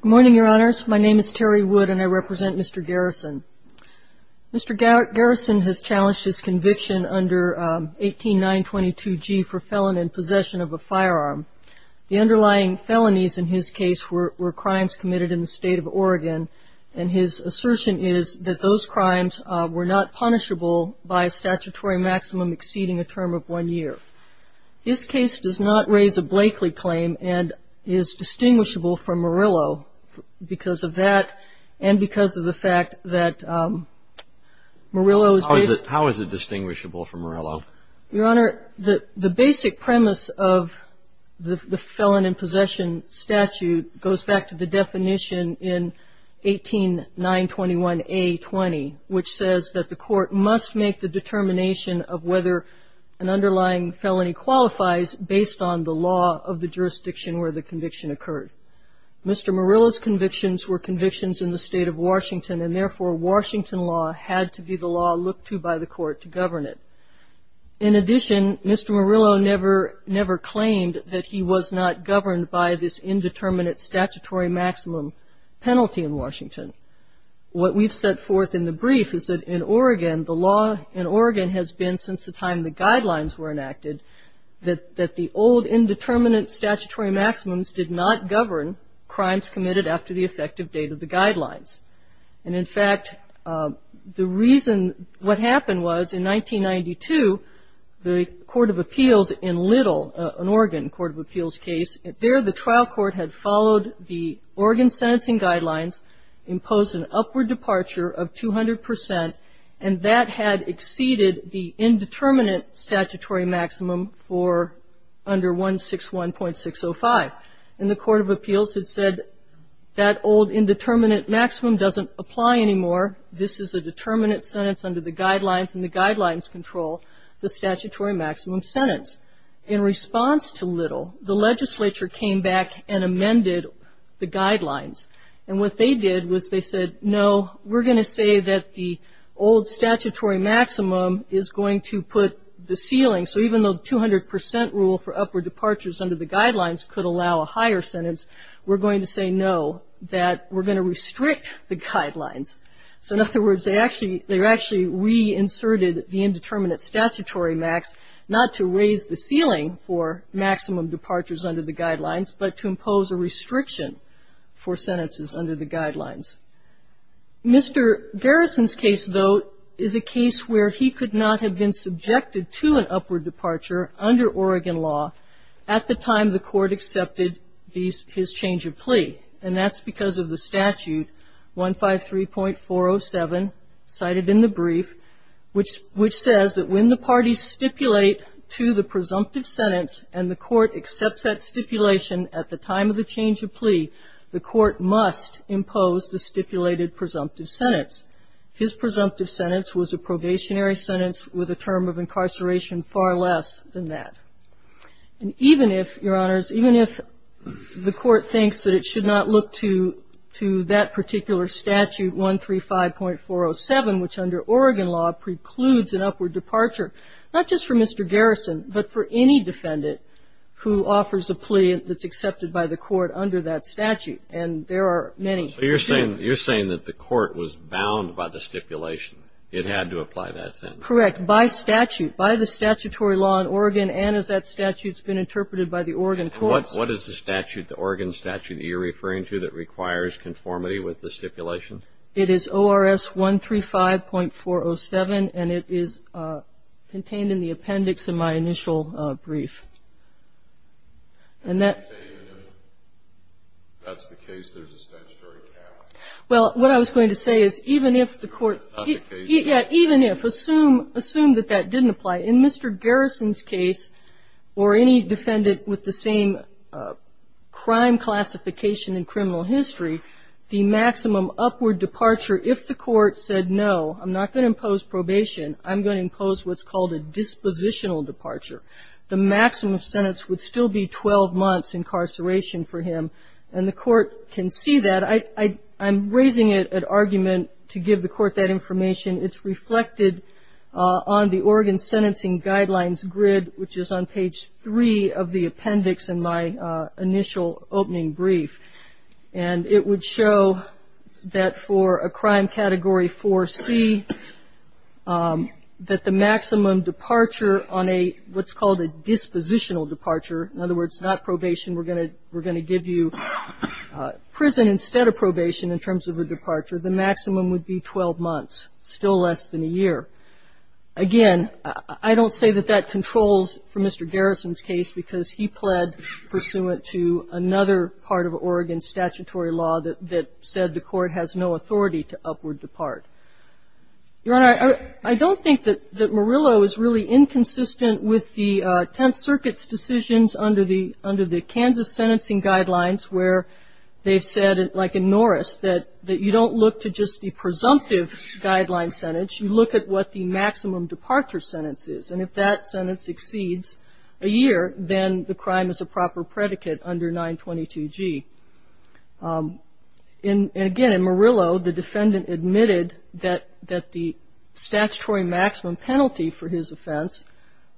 Good morning, your honors. My name is Terry Wood and I represent Mr. Garrison. Mr. Garrison has challenged his conviction under 18.922g for felon in possession of a firearm. The underlying felonies in his case were crimes committed in the state of Oregon and his assertion is that those crimes were not punishable by a statutory maximum exceeding a term of one year. His case does not raise a Blakely claim and is distinguished by its distinction from Murillo because of that and because of the fact that Murillo is How is it distinguishable from Murillo? Your honor, the basic premise of the felon in possession statute goes back to the definition in 18.921a.20 which says that the court must make the determination of whether an underlying felony qualifies based on the law of the jurisdiction where the conviction occurred. Mr. Murillo's convictions were convictions in the state of Washington and therefore Washington law had to be the law looked to by the court to govern it. In addition, Mr. Murillo never claimed that he was not governed by this indeterminate statutory maximum penalty in Washington. What we've set forth in the brief is that in Oregon, the law in Oregon has been since the time the guidelines were enacted that the old indeterminate statutory maximums did not govern crimes committed after the effective date of the guidelines. And in fact, the reason what happened was in 1992, the Court of Appeals in Little, an Oregon Court of Appeals case, there the trial court had followed the Oregon sentencing guidelines, imposed an upward departure of 200% and that had exceeded the indeterminate statutory maximum for under 161.605. And the Court of Appeals had said that old indeterminate maximum doesn't apply anymore. This is a determinate sentence under the guidelines and the guidelines control the statutory maximum sentence. In response to Little, the legislature came back and amended the guidelines. And what they did was they said, no, we're going to say that the old statutory maximum is going to put the ceiling. So even though the 200% rule for upward departures under the guidelines could allow a higher sentence, we're going to say no, that we're going to restrict the guidelines. So in other words, they actually re-inserted the indeterminate statutory max not to raise the ceiling for maximum departures under the guidelines, but to impose a restriction for sentences under the guidelines. Mr. Garrison's case, though, is a case where he could not have been subjected to an upward departure under Oregon law at the time the Court accepted his change of plea. And that's because of the statute, 153.407, cited in the brief, which says that when the parties stipulate to the presumptive sentence and the Court accepts that stipulation at the time of the change of plea, the Court must impose the change of plea. And that's because of the statute, 153.407, which says that when the parties stipulated presumptive sentence, his presumptive sentence was a probationary sentence with a term of incarceration far less than that. And even if, Your Honors, even if the Court thinks that it should not look to that particular statute, 135.407, which under Oregon law precludes an upward departure, not just for Mr. Garrison, but for any defendant who offers a plea that's accepted by the Court under that statute. So you're saying that the Court was bound by the stipulation. It had to apply that sentence. Correct. By statute, by the statutory law in Oregon and as that statute's been interpreted by the Oregon courts. What is the statute, the Oregon statute, that you're referring to that requires conformity with the stipulation? It is ORS 135.407, and it is contained in the appendix in my initial brief. And that's the case there's a statutory cap. Well, what I was going to say is even if the Court, yeah, even if, assume that that didn't apply. In Mr. Garrison's case, or any defendant with the same crime classification in criminal history, the maximum upward departure, if the Court said, no, I'm not going to impose probation, I'm going to impose what's called a dispositional departure, the maximum sentence would still be 12 months incarceration for him. And the Court can see that. I'm raising an argument to give the Court that information. It's reflected on the Oregon Sentencing Guidelines grid, which is on page 3 of the appendix in my initial opening brief. And it would show that for a crime category 4C, that the maximum departure on a what's called a dispositional departure, in other words, not probation, we're going to give you prison instead of probation in terms of a departure, the maximum would be 12 months, still less than a year. Again, I don't say that that controls for Mr. Garrison's case, because he pled pursuant to another part of Oregon statutory law that said the Court has no authority to upward depart. Your Honor, I don't think that Murillo is really inconsistent with the Tenth Circuit's decisions under the Kansas Sentencing Guidelines, where they've said, like in Norris, that you don't look to just the presumptive guideline sentence. You look at what the maximum departure sentence is, and if that sentence exceeds a year, then the crime is a proper predicate under 922G. And again, in Murillo, the defendant admitted that the statutory maximum penalty for his offense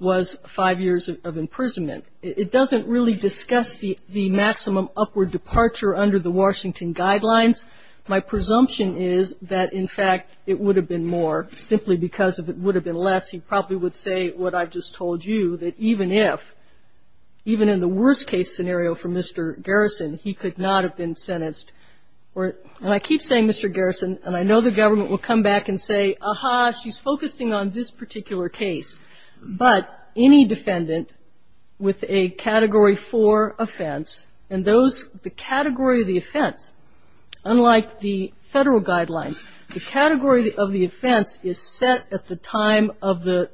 was five years of imprisonment. It doesn't really discuss the maximum upward departure under the Washington Guidelines. My presumption is that, in fact, it would have been more. Simply because it would have been less, he probably would say what I've just told you, that even if, even in the worst-case scenario for Mr. Garrison, he could not have been sentenced. And I keep saying Mr. Garrison, and I know the government will come back and say, aha, she's focusing on this particular case. But any defendant with a Category 4 offense, and those, the category of the offense, unlike the Federal Guidelines, the category of the offense is set at the time of the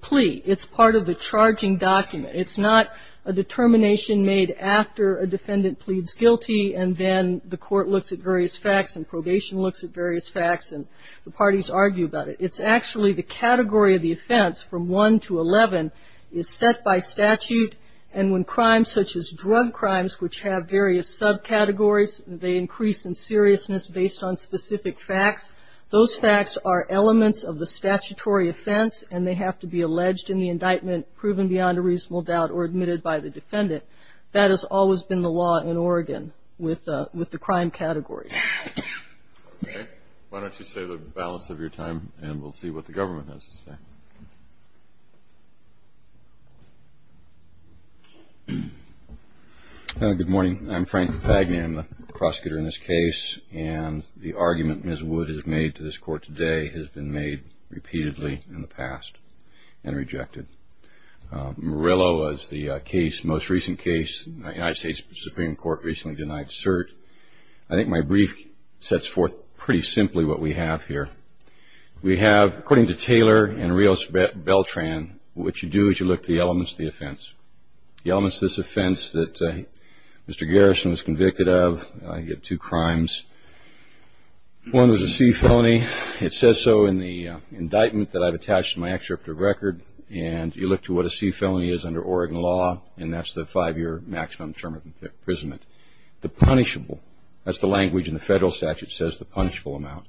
plea. It's part of the charging document. It's not a determination made after a defendant pleads guilty, and then the court looks at various facts, and probation looks at various facts, and the parties argue about it. It's actually the category of the offense from 1 to 11 is set by statute, and when crimes such as drug crimes, which have various subcategories, they increase in seriousness based on specific facts. Those facts are elements of the statutory offense, and they have to be alleged in the indictment, proven beyond a reasonable doubt, or admitted by the defendant. That has always been the law in Oregon with the crime categories. Okay. Why don't you save the balance of your time, and we'll see what the government has to say. Good morning. I'm Frank Fagnan, the prosecutor in this case, and the argument Ms. Wood has made to this court today has been made repeatedly in the past and rejected. Murillo is the case, most recent case. The United States Supreme Court recently denied cert. I think my brief sets forth pretty simply what we have here. We have, according to Taylor and Rios Beltran, what you do is you look at the elements of the offense. The elements of this offense that Mr. Garrison was convicted of, he had two crimes. One was a C felony. It says so in the indictment that I've attached to my extractive record, and you look to what a C felony is under Oregon law, and that's the five-year maximum term of imprisonment. The punishable, that's the language in the federal statute, says the punishable amount.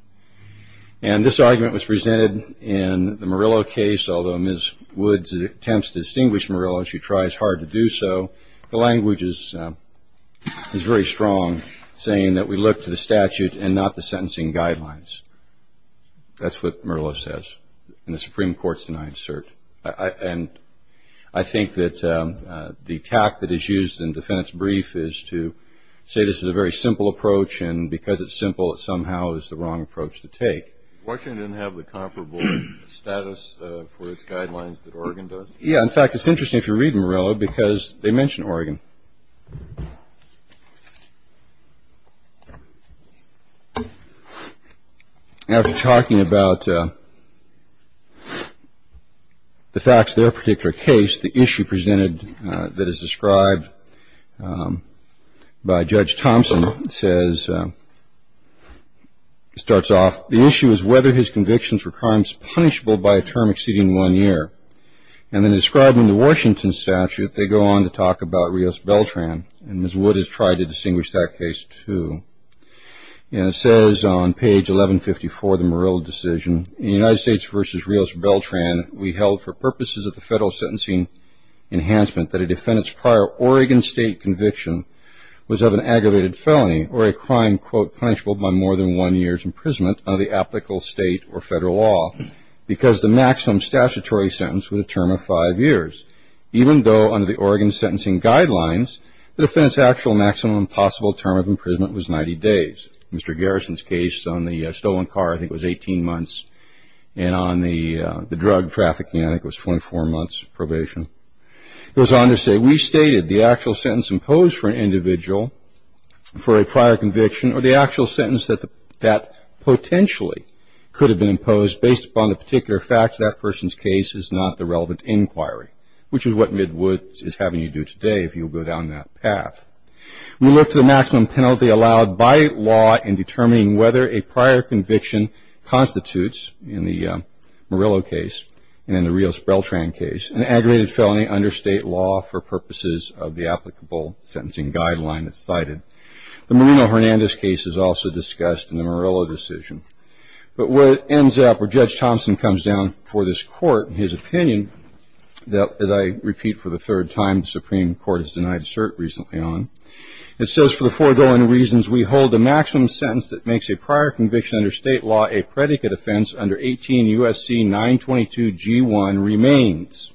And this argument was presented in the Murillo case. Although Ms. Wood attempts to distinguish Murillo, she tries hard to do so. The language is very strong, saying that we look to the statute and not the sentencing guidelines. That's what Murillo says, and the Supreme Court's denied cert. And I think that the tact that is used in the defense brief is to say this is a very simple approach, and because it's simple, it somehow is the wrong approach to take. Washington didn't have the comparable status for its guidelines that Oregon does. Yeah. In fact, it's interesting if you read Murillo because they mention Oregon. After talking about the facts of their particular case, the issue presented that is described by Judge Thompson says, starts off, the issue is whether his convictions were crimes punishable by a term exceeding one year. And then describing the Washington statute, they go on to talk about Rios-Beltran, and Ms. Wood has tried to distinguish that case, too. And it says on page 1154 of the Murillo decision, in the United States v. Rios-Beltran we held for purposes of the federal sentencing enhancement that a defendant's prior Oregon state conviction was of an aggravated felony or a crime, quote, punishable by more than one year's imprisonment under the applicable state or federal law because the maximum statutory sentence was a term of five years, even though under the Oregon sentencing guidelines, the defendant's actual maximum possible term of imprisonment was 90 days. Mr. Garrison's case on the stolen car, I think it was 18 months, and on the drug trafficking, I think it was 24 months probation. It goes on to say, we stated the actual sentence imposed for an individual for a prior conviction or the actual sentence that potentially could have been imposed based upon the particular facts that person's case is not the relevant inquiry, which is what Ms. Wood is having you do today if you go down that path. We looked at the maximum penalty allowed by law in determining whether a prior conviction constitutes, in the Murillo case and in the Rios-Beltran case, an aggravated felony under state law for purposes of the applicable sentencing guideline that's cited. The Moreno-Hernandez case is also discussed in the Murillo decision. But where it ends up, where Judge Thompson comes down for this court, his opinion that I repeat for the third time the Supreme Court has denied cert recently on, it says for the foregoing reasons we hold the maximum sentence that makes a prior conviction under state law a predicate offense under 18 U.S.C. 922 G1 remains,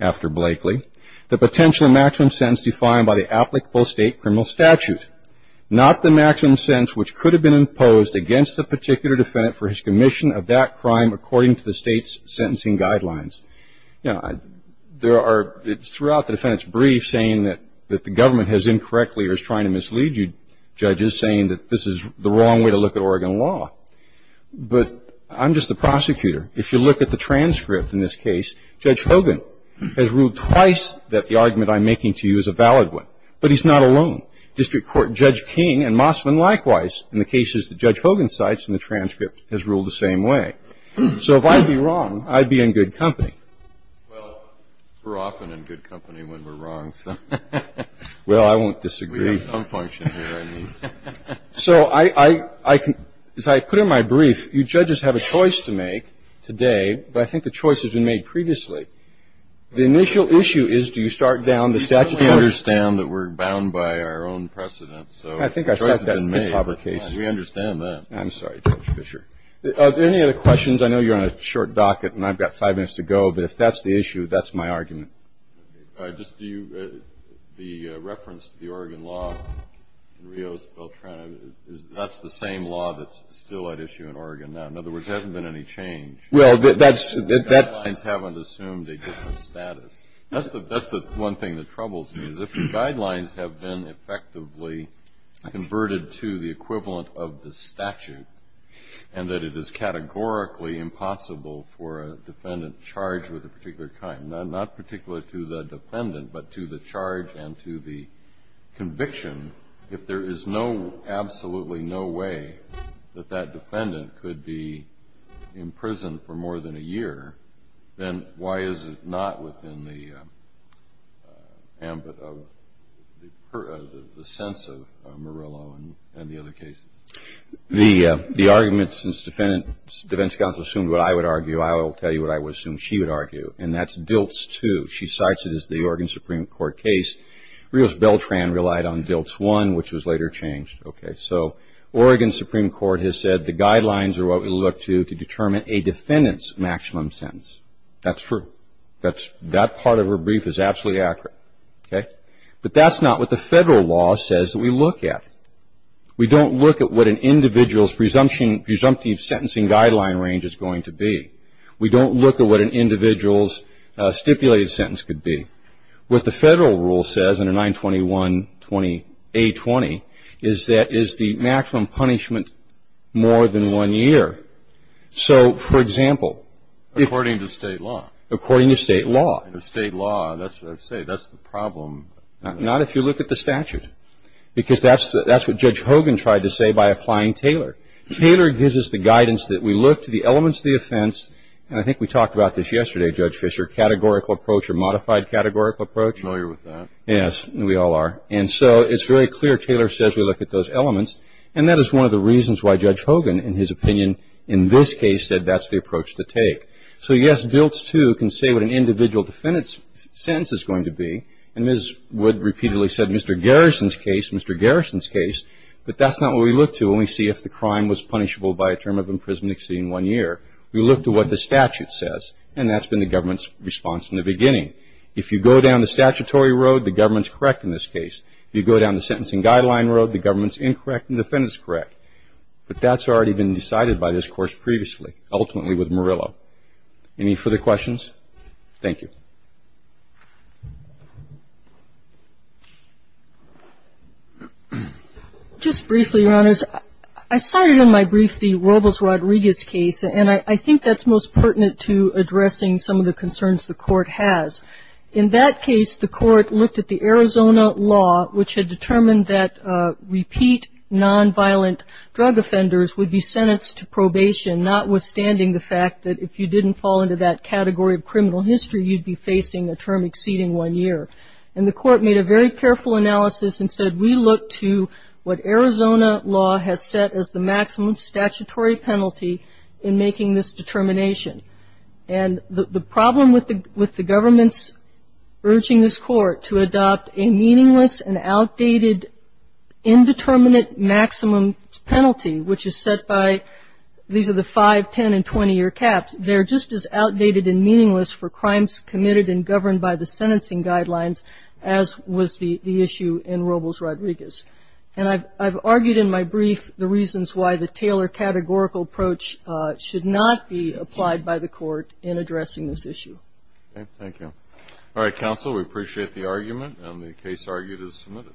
after Blakely, the potential maximum sentence defined by the applicable state criminal statute, not the maximum sentence which could have been imposed against the particular defendant for his commission of that crime according to the state's sentencing guidelines. You know, there are throughout the defendant's brief saying that the government has incorrectly or is trying to mislead you, judges, saying that this is the wrong way to look at Oregon law. But I'm just the prosecutor. If you look at the transcript in this case, Judge Hogan has ruled twice that the argument I'm making to you is a valid one. But he's not alone. District Court Judge King and Mosman likewise in the cases that Judge Hogan cites in the transcript has ruled the same way. So if I'd be wrong, I'd be in good company. Well, we're often in good company when we're wrong, so. Well, I won't disagree. We have some function here, I mean. So I can as I put in my brief, you judges have a choice to make today, but I think the choice has been made previously. The initial issue is do you start down the statute. We understand that we're bound by our own precedent, so the choice has been made. We understand that. I'm sorry, Judge Fischer. Are there any other questions? I know you're on a short docket and I've got five minutes to go, but if that's the issue, that's my argument. Just the reference to the Oregon law, Rios, Beltrana, that's the same law that's still at issue in Oregon now. In other words, there hasn't been any change. The guidelines haven't assumed a different status. That's the one thing that troubles me, is if the guidelines have been effectively converted to the equivalent of the statute and that it is categorically impossible for a defendant charged with a particular crime, not particularly to the defendant, but to the charge and to the conviction, if there is absolutely no way that that defendant could be in prison for more than a year, then why is it not within the ambit of the sense of Murillo and the other cases? The argument, since defendant's counsel assumed what I would argue, I will tell you what I would assume she would argue, and that's DILTS 2. She cites it as the Oregon Supreme Court case. Rios-Beltran relied on DILTS 1, which was later changed. So Oregon Supreme Court has said the guidelines are what we look to to determine a defendant's maximum sentence. That's true. That part of her brief is absolutely accurate. But that's not what the federal law says that we look at. We don't look at what an individual's presumptive sentencing guideline range is going to be. We don't look at what an individual's stipulated sentence could be. What the federal rule says in a 921-20A20 is that is the maximum punishment more than one year. So, for example, if you look at the statute, because that's what Judge Hogan tried to say by applying Taylor. Taylor gives us the guidance that we look to the elements of the offense, and I think we talked about this yesterday, Judge Fischer, categorical approach or modified categorical approach. I'm familiar with that. Yes, we all are. And so it's very clear Taylor says we look at those elements, and that is one of the reasons why Judge Hogan in his opinion in this case said that's the approach to take. So, yes, DILTS 2 can say what an individual defendant's sentence is going to be, and Ms. Wood repeatedly said Mr. Garrison's case, Mr. Garrison's case, but that's not what we look to when we see if the crime was punishable by a term of imprisonment exceeding one year. We look to what the statute says, and that's been the government's response in the beginning. If you go down the statutory road, the government's correct in this case. If you go down the sentencing guideline road, the government's incorrect and the defendant's correct. But that's already been decided by this Court previously, ultimately with Murillo. Any further questions? Thank you. Just briefly, Your Honors, I cited in my brief the Robles-Rodriguez case, and I think that's most pertinent to addressing some of the concerns the Court has. In that case, the Court looked at the Arizona law, which had determined that repeat nonviolent drug offenders would be sentenced to probation, notwithstanding the fact that if you didn't fall into that category of criminal history, you'd be facing a term exceeding one year. And the Court made a very careful analysis and said, we look to what Arizona law has set as the maximum statutory penalty in making this determination. And the problem with the government's urging this Court to adopt a meaningless and outdated indeterminate maximum penalty, which is set by these are the 5, 10, and 20-year caps, they're just as outdated and meaningless for crimes committed and governed by the sentencing guidelines as was the issue in Robles-Rodriguez. And I've argued in my brief the reasons why the Taylor categorical approach should not be applied by the Court in addressing this issue. Thank you. All right, Counsel, we appreciate the argument, and the case argued is submitted.